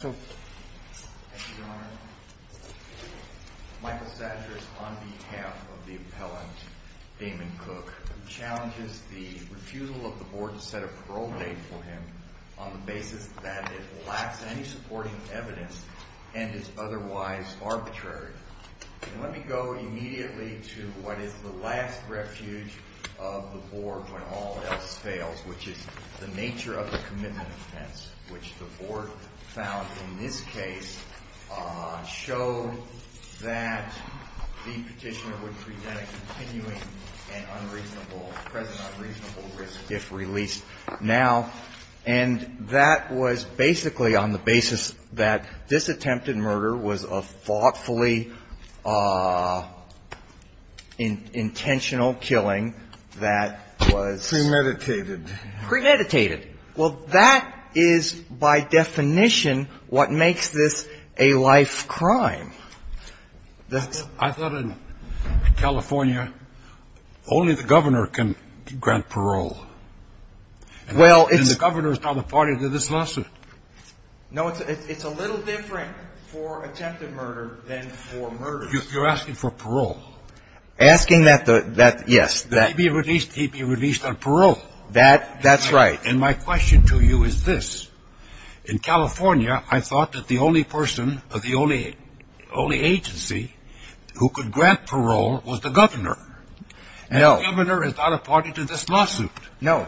Thank you, Your Honor. Michael Satcher is on behalf of the appellant, Damon Cooke, who challenges the refusal of the Board to set a parole date for him on the basis that it lacks any supporting evidence and is otherwise arbitrary. Let me go immediately to what is the last refuge of the Board when all else fails, which is the nature of the commitment offense, which the Board found in this case showed that the petitioner would present a continuing and present unreasonable risk if released now. And that was basically on the basis that this attempted murder was a thoughtfully intentional killing that was… Premeditated. Premeditated. Well, that is by definition what makes this a life crime. I thought in California only the governor can grant parole. Well, it's… And the governor is not a party to this lawsuit. No, it's a little different for attempted murder than for murder. You're asking for parole. Asking that, yes. He'd be released on parole. That's right. And my question to you is this. In California, I thought that the only person or the only agency who could grant parole was the governor. No. The governor is not a party to this lawsuit. No.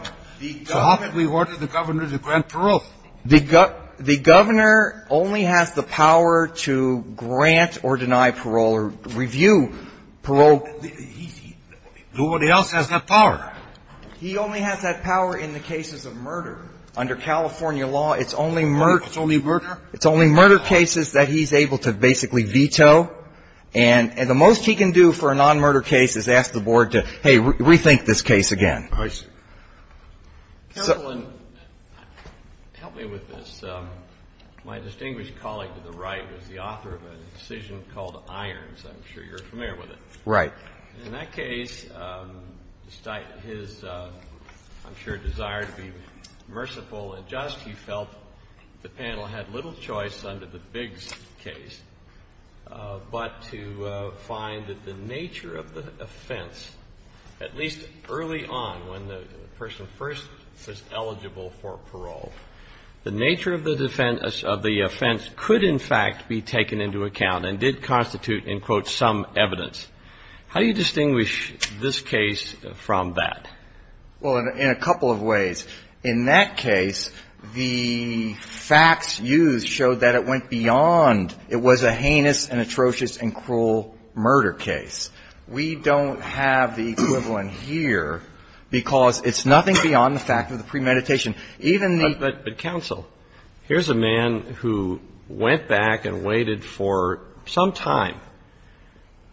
So how can we order the governor to grant parole? The governor only has the power to grant or deny parole or review parole. Nobody else has that power. He only has that power in the cases of murder. Under California law, it's only murder. It's only murder. It's only murder cases that he's able to basically veto. And the most he can do for a non-murder case is ask the board to, hey, rethink this case again. I see. Help me with this. My distinguished colleague to the right was the author of a decision called Irons. I'm sure you're familiar with it. Right. In that case, his, I'm sure, desire to be merciful and just, he felt the panel had little choice under the Biggs case, but to find that the nature of the offense, at least early on when the person first is eligible for parole, the nature of the offense could, in fact, be taken into account and did constitute, in quote, some evidence. How do you distinguish this case from that? Well, in a couple of ways. In that case, the facts used showed that it went beyond it was a heinous and atrocious and cruel murder case. We don't have the equivalent here because it's nothing beyond the fact of the premeditation. But counsel, here's a man who went back and waited for some time,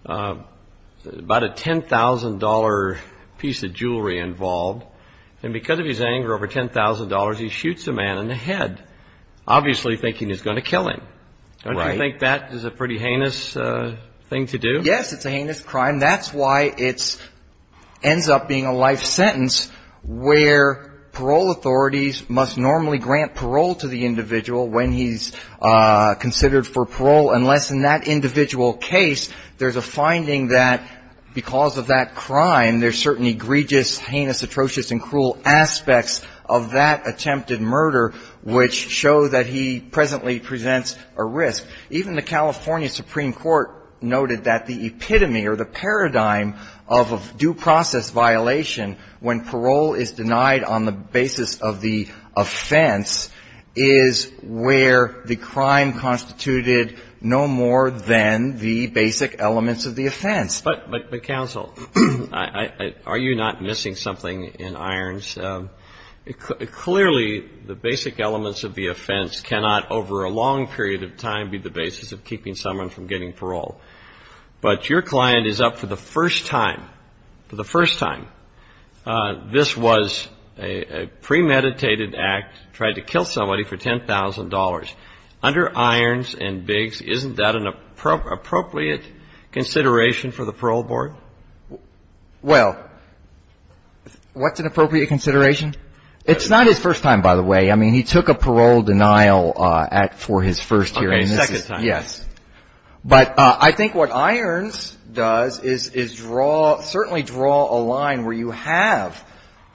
about a $10,000 piece of jewelry involved, and because of his anger over $10,000, he shoots a man in the head, obviously thinking he's going to kill him. Right. Don't you think that is a pretty heinous thing to do? Yes, it's a heinous crime. And that's why it ends up being a life sentence where parole authorities must normally grant parole to the individual when he's considered for parole, unless in that individual case there's a finding that because of that crime, there's certain egregious, heinous, atrocious, and cruel aspects of that attempted murder, which show that he presently presents a risk. Even the California Supreme Court noted that the epitome or the paradigm of a due process violation when parole is denied on the basis of the offense is where the crime constituted no more than the basic elements of the offense. But counsel, are you not missing something in Irons? I'm not missing anything in Irons. But clearly the basic elements of the offense cannot, over a long period of time, be the basis of keeping someone from getting parole. But your client is up for the first time, for the first time. This was a premeditated act, tried to kill somebody for $10,000. Under Irons and Biggs, isn't that an appropriate consideration for the parole board? Well, what's an appropriate consideration? It's not his first time, by the way. I mean, he took a parole denial act for his first hearing. Okay, second time. Yes. But I think what Irons does is draw, certainly draw a line where you have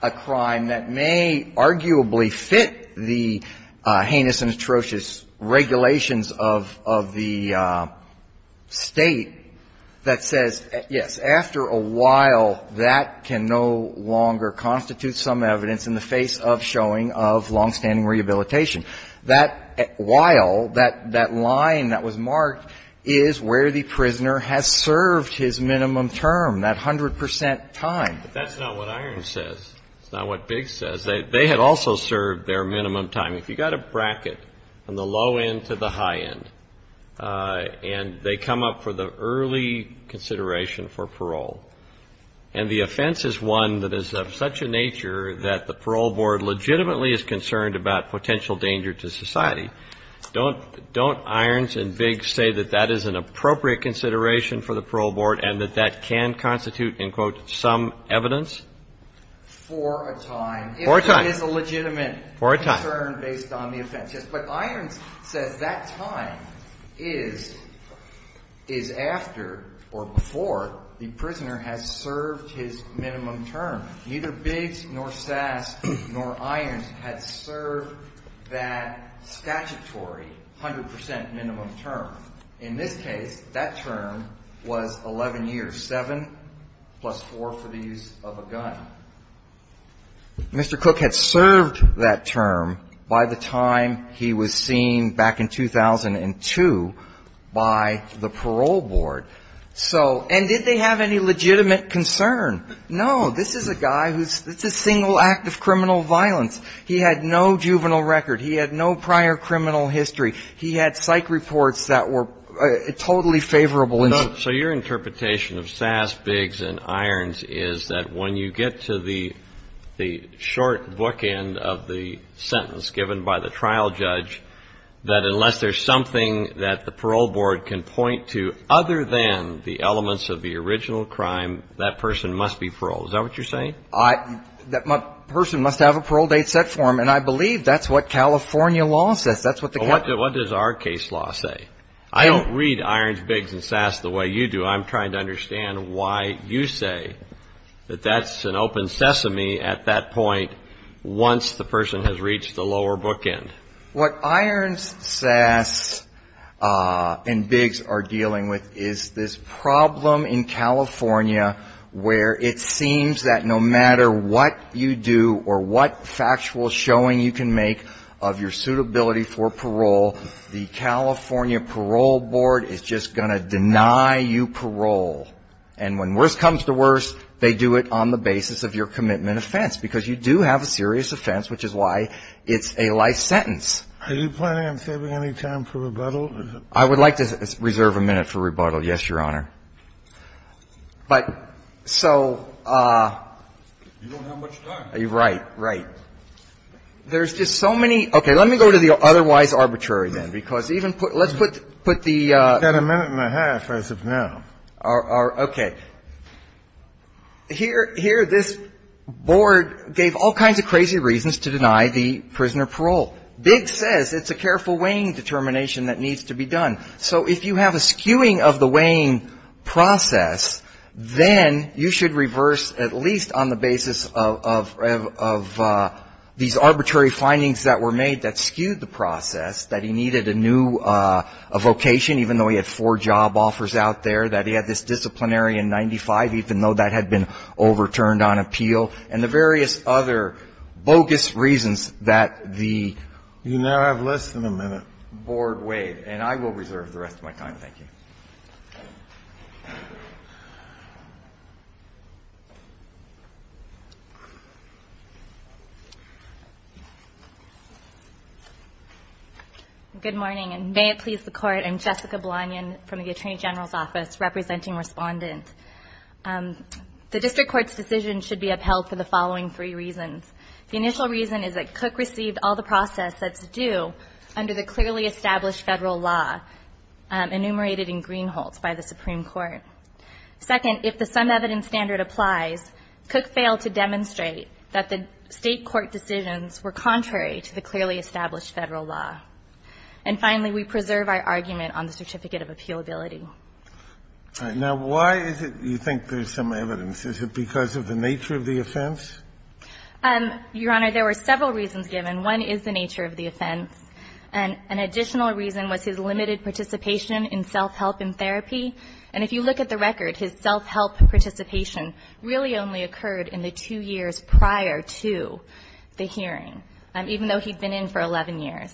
a crime that may arguably fit the heinous and atrocious regulations of the State that says, yes, after a while that can no longer constitute some evidence in the face of showing of longstanding rehabilitation. That while, that line that was marked is where the prisoner has served his minimum term, that 100 percent time. But that's not what Irons says. It's not what Biggs says. They had also served their minimum time. If you've got a bracket from the low end to the high end, and they come up for the early consideration for parole, and the offense is one that is of such a nature that the parole board legitimately is concerned about potential danger to society, don't Irons and Biggs say that that is an appropriate consideration for the parole board and that that can constitute, in quote, some evidence? For a time. For a time. It is a legitimate concern based on the offense. But Irons says that time is after or before the prisoner has served his minimum term. Neither Biggs nor Sass nor Irons had served that statutory 100 percent minimum term. In this case, that term was 11 years, 7 plus 4 for the use of a gun. Mr. Cook had served that term by the time he was seen back in 2002 by the parole board. So, and did they have any legitimate concern? No. This is a guy who's – it's a single act of criminal violence. He had no juvenile record. He had no prior criminal history. He had psych reports that were totally favorable. So your interpretation of Sass, Biggs and Irons is that when you get to the short bookend of the sentence given by the trial judge, that unless there's something that the parole board can point to other than the elements of the original crime, that person must be paroled. Is that what you're saying? That person must have a parole date set for him. And I believe that's what California law says. That's what the California law says. Well, what does our case law say? I don't read Irons, Biggs and Sass the way you do. I'm trying to understand why you say that that's an open sesame at that point once the person has reached the lower bookend. What Irons, Sass and Biggs are dealing with is this problem in California where it seems that no matter what you do or what factual showing you can make of your suitability for parole, the California parole board is just going to deny you parole. And when worse comes to worse, they do it on the basis of your commitment offense, because you do have a serious offense, which is why it's a life sentence. Are you planning on saving any time for rebuttal? I would like to reserve a minute for rebuttal, yes, Your Honor. But so you don't have much time. Right, right. There's just so many – okay. Let me go to the otherwise arbitrary then, because even put – let's put the – You've got a minute and a half as of now. Okay. Here this board gave all kinds of crazy reasons to deny the prisoner parole. Biggs says it's a careful weighing determination that needs to be done. So if you have a skewing of the weighing process, then you should reverse at least on the basis of these arbitrary findings that were made that skewed the process, that he needed a new vocation, even though he had four job offers out there, that he had this disciplinary in 95, even though that had been overturned on appeal, and the various other bogus reasons that the board weighed. You now have less than a minute. And I will reserve the rest of my time. Thank you. Good morning, and may it please the Court. I'm Jessica Blanion from the Attorney General's Office, representing Respondent. The district court's decision should be upheld for the following three reasons. The initial reason is that Cook received all the process that's due under the clearly established Federal law enumerated in Greenholt by the Supreme Court. Second, if the sum evidence standard applies, Cook failed to demonstrate that the State court decisions were contrary to the clearly established Federal law. And finally, we preserve our argument on the certificate of appealability. All right. Now, why is it you think there's sum evidence? Is it because of the nature of the offense? Your Honor, there were several reasons given. One is the nature of the offense. And an additional reason was his limited participation in self-help and therapy. And if you look at the record, his self-help participation really only occurred in the two years prior to the hearing, even though he'd been in for 11 years.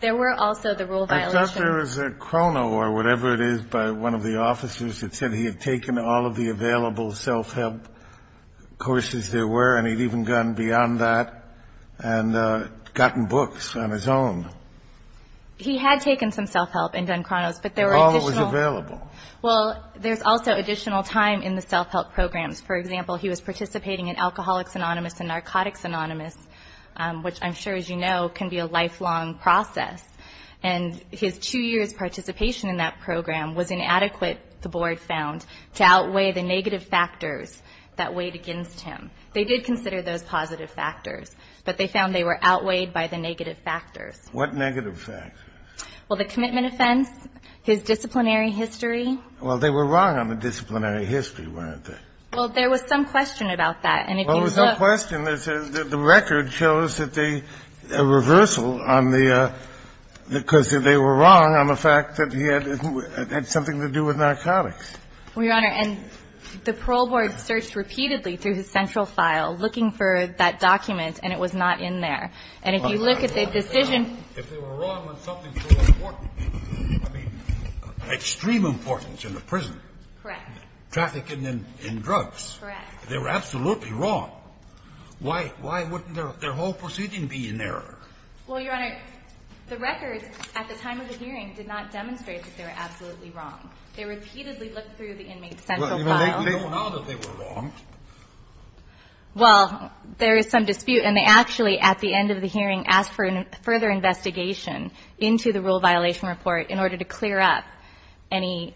There were also the rule violations. I thought there was a chrono or whatever it is by one of the officers that said he had taken all of the available self-help courses there were, and he'd even gone beyond that and gotten books on his own. He had taken some self-help and done chronos, but there were additional. All was available. Well, there's also additional time in the self-help programs. For example, he was participating in Alcoholics Anonymous and Narcotics Anonymous, which I'm sure, as you know, can be a lifelong process. And his two years' participation in that program was inadequate, the board found, to outweigh the negative factors that weighed against him. They did consider those positive factors, but they found they were outweighed by the negative factors. What negative factors? Well, the commitment offense, his disciplinary history. Well, they were wrong on the disciplinary history, weren't they? Well, there was some question about that. Well, there was no question. The record shows that the reversal on the – because they were wrong on the fact that he had something to do with narcotics. Well, Your Honor, and the parole board searched repeatedly through his central file looking for that document, and it was not in there. And if you look at the decision – If they were wrong on something so important, I mean, extreme importance in the prison. Correct. Trafficking in drugs. Correct. They were absolutely wrong. Why wouldn't their whole proceeding be in there? Well, Your Honor, the record at the time of the hearing did not demonstrate that they were absolutely wrong. They repeatedly looked through the inmate's central file. Well, they know now that they were wrong. Well, there is some dispute, and they actually, at the end of the hearing, asked for further investigation into the rule violation report in order to clear up any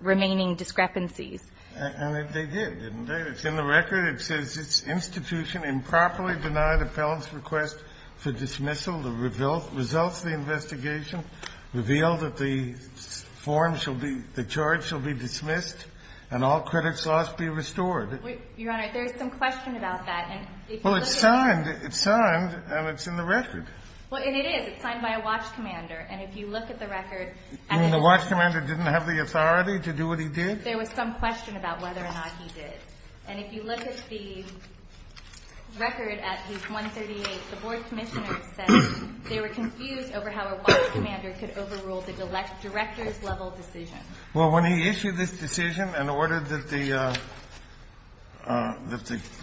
remaining discrepancies. And they did, didn't they? It's in the record. It says, It's institution improperly denied appellant's request for dismissal. The result of the investigation revealed that the form shall be – the charge shall be dismissed and all credits lost be restored. Your Honor, there is some question about that. Well, it's signed. It's signed, and it's in the record. Well, and it is. It's signed by a watch commander. And if you look at the record – And the watch commander didn't have the authority to do what he did? There was some question about whether or not he did. And if you look at the record at page 138, the board commissioner said they were confused over how a watch commander could overrule the director's level decision. Well, when he issued this decision and ordered that the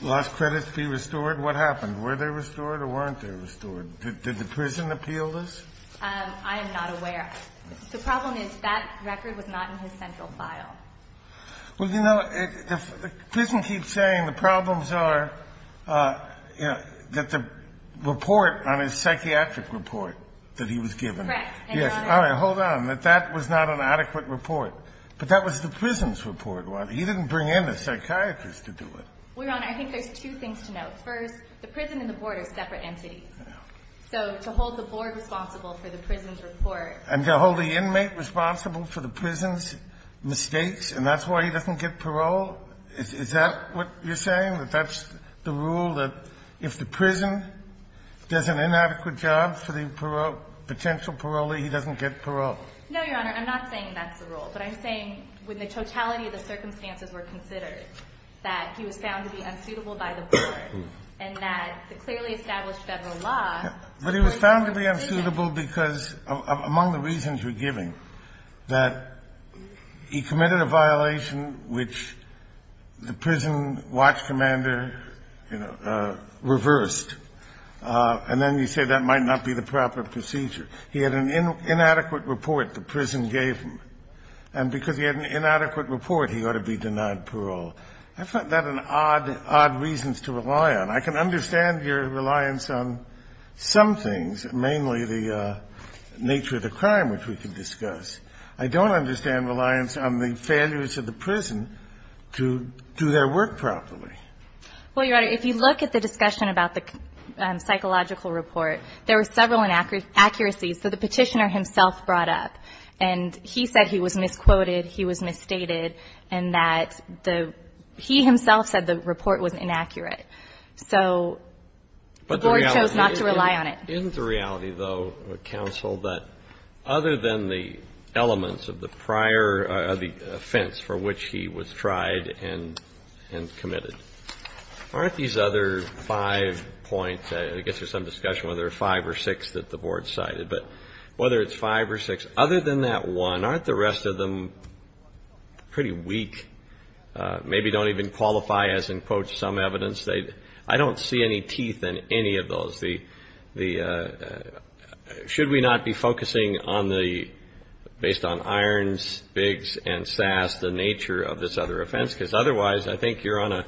lost credits be restored, what happened? Were they restored or weren't they restored? Did the prison appeal this? I am not aware. The problem is that record was not in his central file. Well, you know, the prison keeps saying the problems are, you know, that the report on his psychiatric report that he was given. Correct. Yes. All right. Hold on. That that was not an adequate report. But that was the prison's report. He didn't bring in a psychiatrist to do it. Well, Your Honor, I think there's two things to note. First, the prison and the board are separate entities. So to hold the board responsible for the prison's report – And to hold the inmate responsible for the prison's mistakes, and that's why he doesn't get parole, is that what you're saying, that that's the rule that if the prison does an inadequate job for the parole – potential parolee, he doesn't get parole? No, Your Honor. I'm not saying that's the rule. But I'm saying when the totality of the circumstances were considered, that he was found to be unsuitable by the board, and that the clearly established Federal But he was found to be unsuitable because, among the reasons you're giving, that he committed a violation which the prison watch commander, you know, reversed. And then you say that might not be the proper procedure. He had an inadequate report the prison gave him. And because he had an inadequate report, he ought to be denied parole. I find that an odd, odd reason to rely on. I can understand your reliance on some things, mainly the nature of the crime, which we can discuss. I don't understand reliance on the failures of the prison to do their work properly. Well, Your Honor, if you look at the discussion about the psychological report, there were several inaccuracies that the Petitioner himself brought up. And he said he was misquoted, he was misstated, and that the – he himself said the report was inaccurate. So the board chose not to rely on it. Isn't the reality, though, counsel, that other than the elements of the prior offense for which he was tried and committed, aren't these other five points – I guess there's some discussion whether it's five or six that the board cited, but whether it's five or six. Other than that one, aren't the rest of them pretty weak, maybe don't even qualify as, in quotes, some evidence? I don't see any teeth in any of those. The – should we not be focusing on the – based on Irons, Biggs, and Sass, the nature of this other offense? Because otherwise, I think you're on a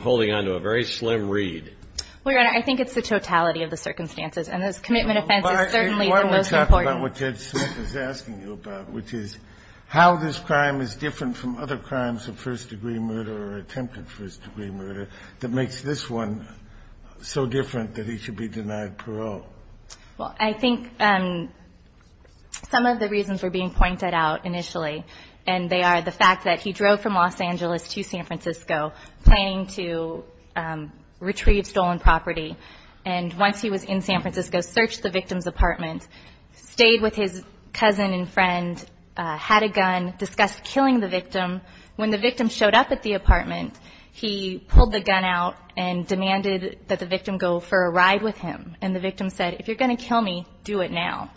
– holding on to a very slim reed. Well, Your Honor, I think it's the totality of the circumstances. And this commitment offense is certainly the most important. But why don't we talk about what Judge Smith is asking you about, which is how this one so different that he should be denied parole? Well, I think some of the reasons were being pointed out initially. And they are the fact that he drove from Los Angeles to San Francisco planning to retrieve stolen property. And once he was in San Francisco, searched the victim's apartment, stayed with his cousin and friend, had a gun, discussed killing the victim. When the victim showed up at the apartment, he pulled the gun out and demanded that the victim go for a ride with him. And the victim said, if you're going to kill me, do it now.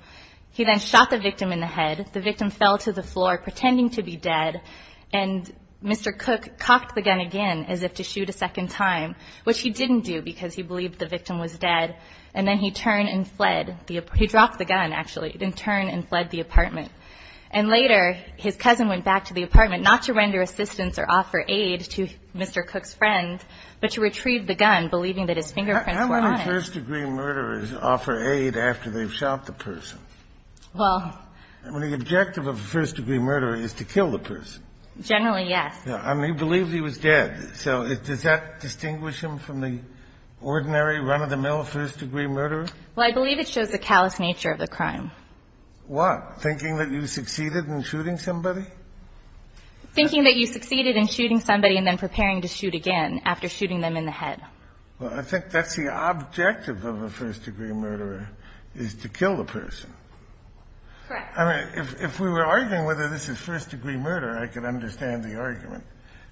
He then shot the victim in the head. The victim fell to the floor, pretending to be dead. And Mr. Cook cocked the gun again as if to shoot a second time, which he didn't do because he believed the victim was dead. And then he turned and fled. He dropped the gun, actually, and turned and fled the apartment. And later, his cousin went back to the apartment, not to render assistance or offer aid to Mr. Cook's friend, but to retrieve the gun, believing that his fingerprints were on it. How many first-degree murderers offer aid after they've shot the person? Well. I mean, the objective of a first-degree murderer is to kill the person. Generally, yes. I mean, he believed he was dead. So does that distinguish him from the ordinary run-of-the-mill first-degree murderer? Well, I believe it shows the callous nature of the crime. What? Thinking that you succeeded in shooting somebody? Thinking that you succeeded in shooting somebody and then preparing to shoot again after shooting them in the head. Well, I think that's the objective of a first-degree murderer, is to kill the person. Correct. I mean, if we were arguing whether this is first-degree murder, I could understand the argument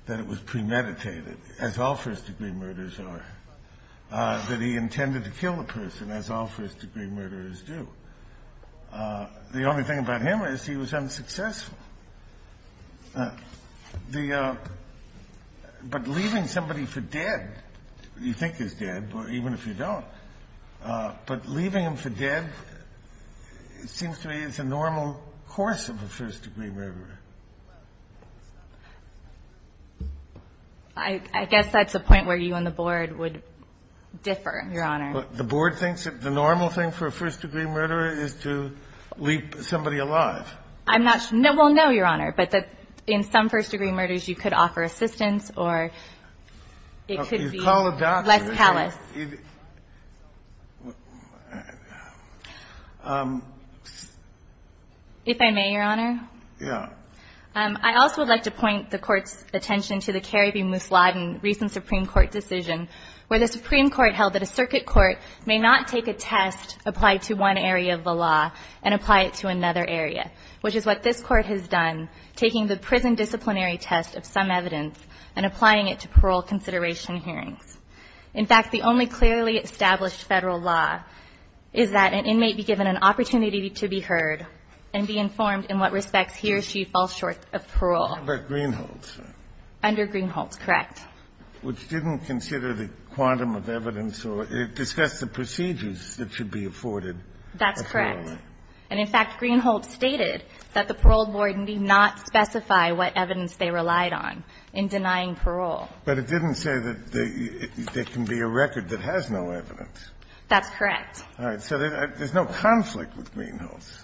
that it was premeditated, as all first-degree murderers are, that he intended to kill the person, as all first-degree murderers do. The only thing about him is he was unsuccessful. The – but leaving somebody for dead, you think he's dead, even if you don't, but leaving him for dead seems to me is a normal course of a first-degree murderer. I guess that's a point where you and the Board would differ, Your Honor. But the Board thinks that the normal thing for a first-degree murderer is to leave somebody alive. I'm not – well, no, Your Honor, but that in some first-degree murders, you could offer assistance or it could be less callous. You call a doctor. If I may, Your Honor? Yeah. I also would like to point the Court's attention to the Kerry v. Muslad and recent Supreme Court decision where the Supreme Court held that a circuit court may not take a test applied to one area of the law and apply it to another area, which is what this Court has done, taking the prison disciplinary test of some evidence and applying it to parole consideration hearings. In fact, the only clearly established Federal law is that an inmate be given an opportunity to be heard and be informed in what respects he or she falls short of parole. Under Greenholds. Under Greenholds, correct. Which didn't consider the quantum of evidence. It discussed the procedures that should be afforded. That's correct. And in fact, Greenholds stated that the parole board need not specify what evidence they relied on in denying parole. But it didn't say that there can be a record that has no evidence. That's correct. All right. So there's no conflict with Greenholds.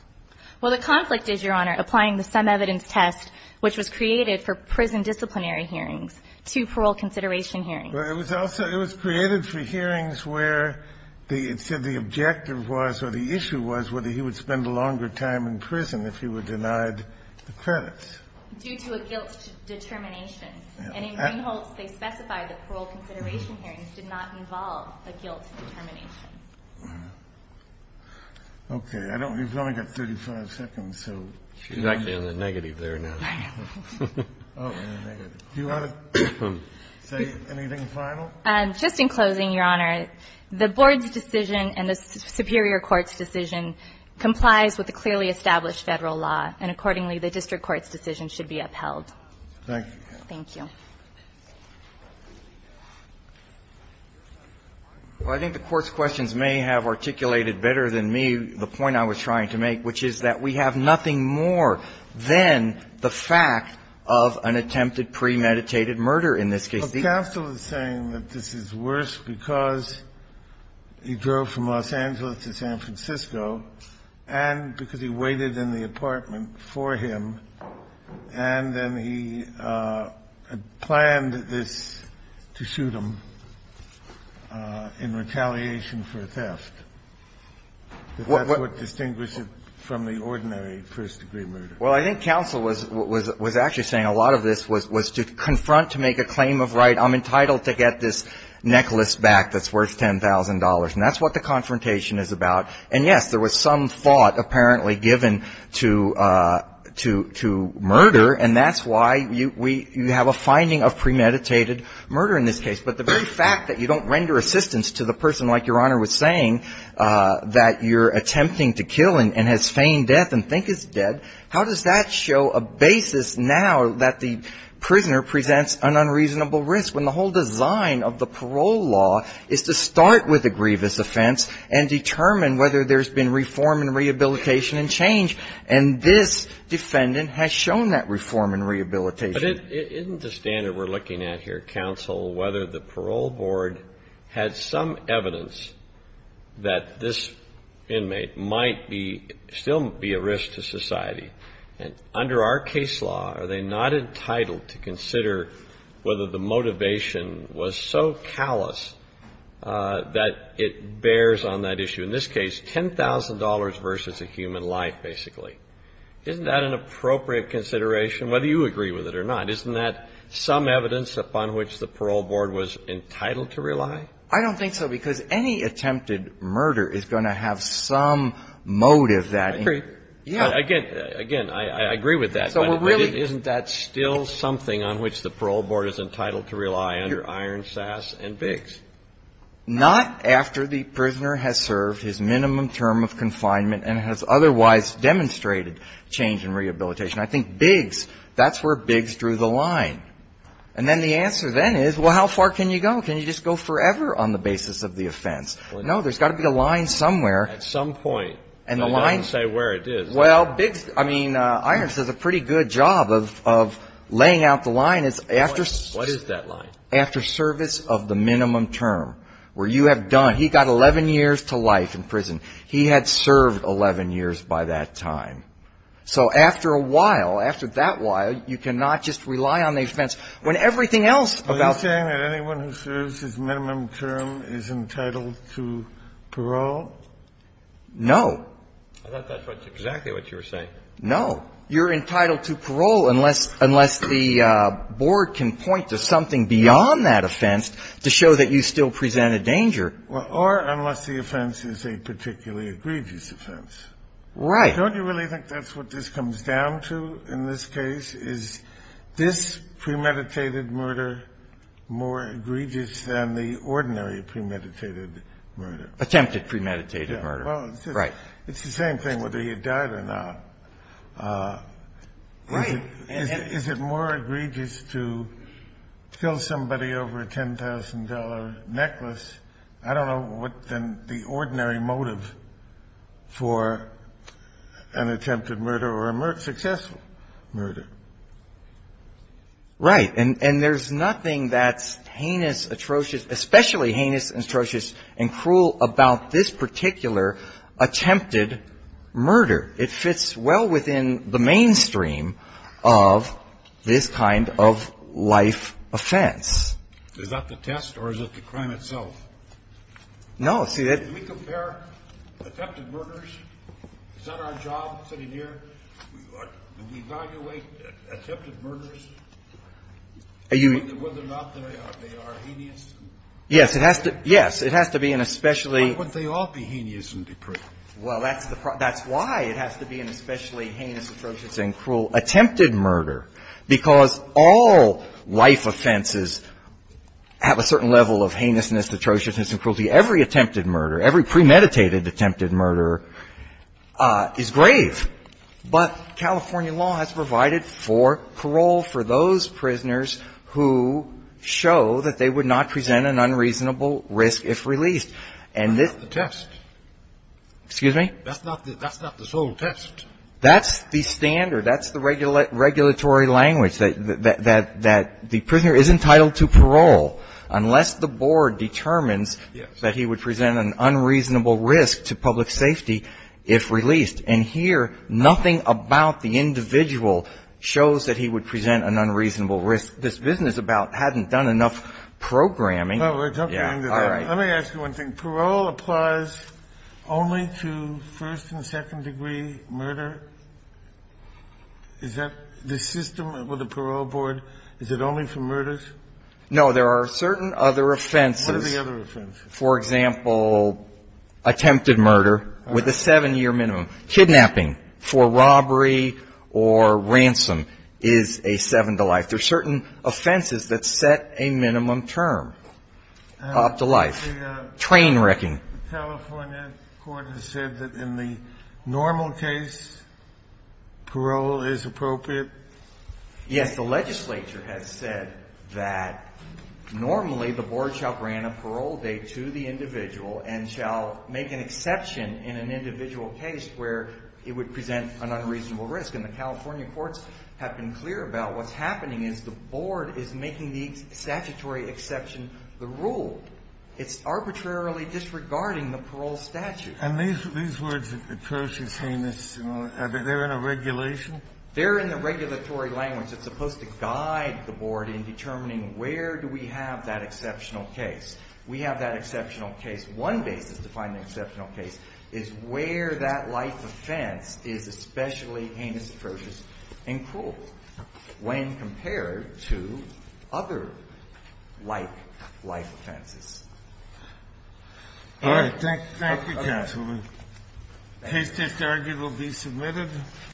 Well, the conflict is, Your Honor, applying the some evidence test which was created for prison disciplinary hearings to parole consideration hearings. Well, it was also, it was created for hearings where the, it said the objective was or the issue was whether he would spend a longer time in prison if he were denied the credits. Due to a guilt determination. And in Greenholds, they specify that parole consideration hearings did not involve a guilt determination. Okay. I don't, we've only got 35 seconds, so. She's actually on the negative there now. Oh, I'm on the negative. Do you want to say anything final? Just in closing, Your Honor, the board's decision and the superior court's decision complies with the clearly established Federal law. And accordingly, the district court's decision should be upheld. Thank you. Thank you. Well, I think the court's questions may have articulated better than me the point I was trying to make, which is that we have nothing more than the fact of an attempted premeditated murder in this case. Counsel is saying that this is worse because he drove from Los Angeles to San Francisco and because he waited in the apartment for him, and then he planned this to shoot him in retaliation for theft. That's what distinguishes it from the ordinary first-degree murder. Well, I think counsel was actually saying a lot of this was to confront, to make a claim of right. I'm entitled to get this necklace back that's worth $10,000. And that's what the confrontation is about. And, yes, there was some thought apparently given to murder, and that's why you have a finding of premeditated murder in this case. But the very fact that you don't render assistance to the person, like Your Honor was saying, that you're attempting to kill and has feigned death and think is dead, how does that show a basis now that the prisoner presents an unreasonable risk, when the whole design of the parole law is to start with a grievous offense and determine whether there's been reform and rehabilitation and change? And this defendant has shown that reform and rehabilitation. But isn't the standard we're looking at here, counsel, whether the parole board had some evidence that this inmate might be, still be a risk to society? And under our case law, are they not entitled to consider whether the motivation was so callous that it bears on that issue? In this case, $10,000 versus a human life, basically. Isn't that an appropriate consideration, whether you agree with it or not? Isn't that some evidence upon which the parole board was entitled to rely? I don't think so, because any attempted murder is going to have some motive that in it. I agree. Again, I agree with that. But isn't that still something on which the parole board is entitled to rely under Ironsass and Biggs? Not after the prisoner has served his minimum term of confinement and has otherwise demonstrated change and rehabilitation. I think Biggs, that's where Biggs drew the line. And then the answer then is, well, how far can you go? Can you just go forever on the basis of the offense? No, there's got to be a line somewhere. At some point. And the line. I don't want to say where it is. Well, Biggs, I mean, Irons has a pretty good job of laying out the line. What is that line? After service of the minimum term, where you have done, he got 11 years to life in prison. He had served 11 years by that time. So after a while, after that while, you cannot just rely on the offense when everything else about the prison. Are you saying that anyone who serves his minimum term is entitled to parole? No. I thought that's exactly what you were saying. No. You're entitled to parole unless the board can point to something beyond that offense to show that you still present a danger. Well, or unless the offense is a particularly egregious offense. Right. Don't you really think that's what this comes down to in this case? Is this premeditated murder more egregious than the ordinary premeditated murder? Attempted premeditated murder. Right. It's the same thing whether he had died or not. Right. Is it more egregious to kill somebody over a $10,000 necklace, I don't know, than the ordinary motive for an attempted murder or a successful murder. Right. And there's nothing that's heinous, atrocious, especially heinous and atrocious and cruel about this particular attempted murder. It fits well within the mainstream of this kind of life offense. Is that the test or is it the crime itself? No. See, that we compare attempted murders. Is that our job sitting here? We evaluate attempted murders, whether or not they are heinous. Yes. It has to be an especially. Why wouldn't they all be heinous and depraved? Well, that's the problem. That's why it has to be an especially heinous, atrocious and cruel attempted murder, because all life offenses have a certain level of heinousness, atrociousness and cruelty. Every attempted murder, every premeditated attempted murder is grave. But California law has provided for parole for those prisoners who show that they would not present an unreasonable risk if released. That's not the test. Excuse me? That's not the sole test. That's the standard. That's the regulatory language, that the prisoner is entitled to parole unless the board determines that he would present an unreasonable risk to public safety if released. And here, nothing about the individual shows that he would present an unreasonable This business about hadn't done enough programming. Yeah. All right. Let me ask you one thing. Parole applies only to first and second degree murder? Is that the system with the parole board, is it only for murders? No. There are certain other offenses. What are the other offenses? For example, attempted murder with a 7-year minimum. Kidnapping for robbery or ransom is a 7 to life. There are certain offenses that set a minimum term up to life. Train wrecking. The California court has said that in the normal case, parole is appropriate? Yes. The legislature has said that normally the board shall grant a parole date to the individual and shall make an exception in an individual case where it would present an unreasonable risk. And the California courts have been clear about what's happening is the board is making the statutory exception the rule. It's arbitrarily disregarding the parole statute. And these words, the curse is heinous, are they in a regulation? They're in the regulatory language that's supposed to guide the board in determining where do we have that exceptional case. We have that exceptional case. One basis to find an exceptional case is where that life offense is especially heinous, atrocious, and cruel when compared to other like life offenses. All right. Thank you, counsel. Case disargued will be submitted.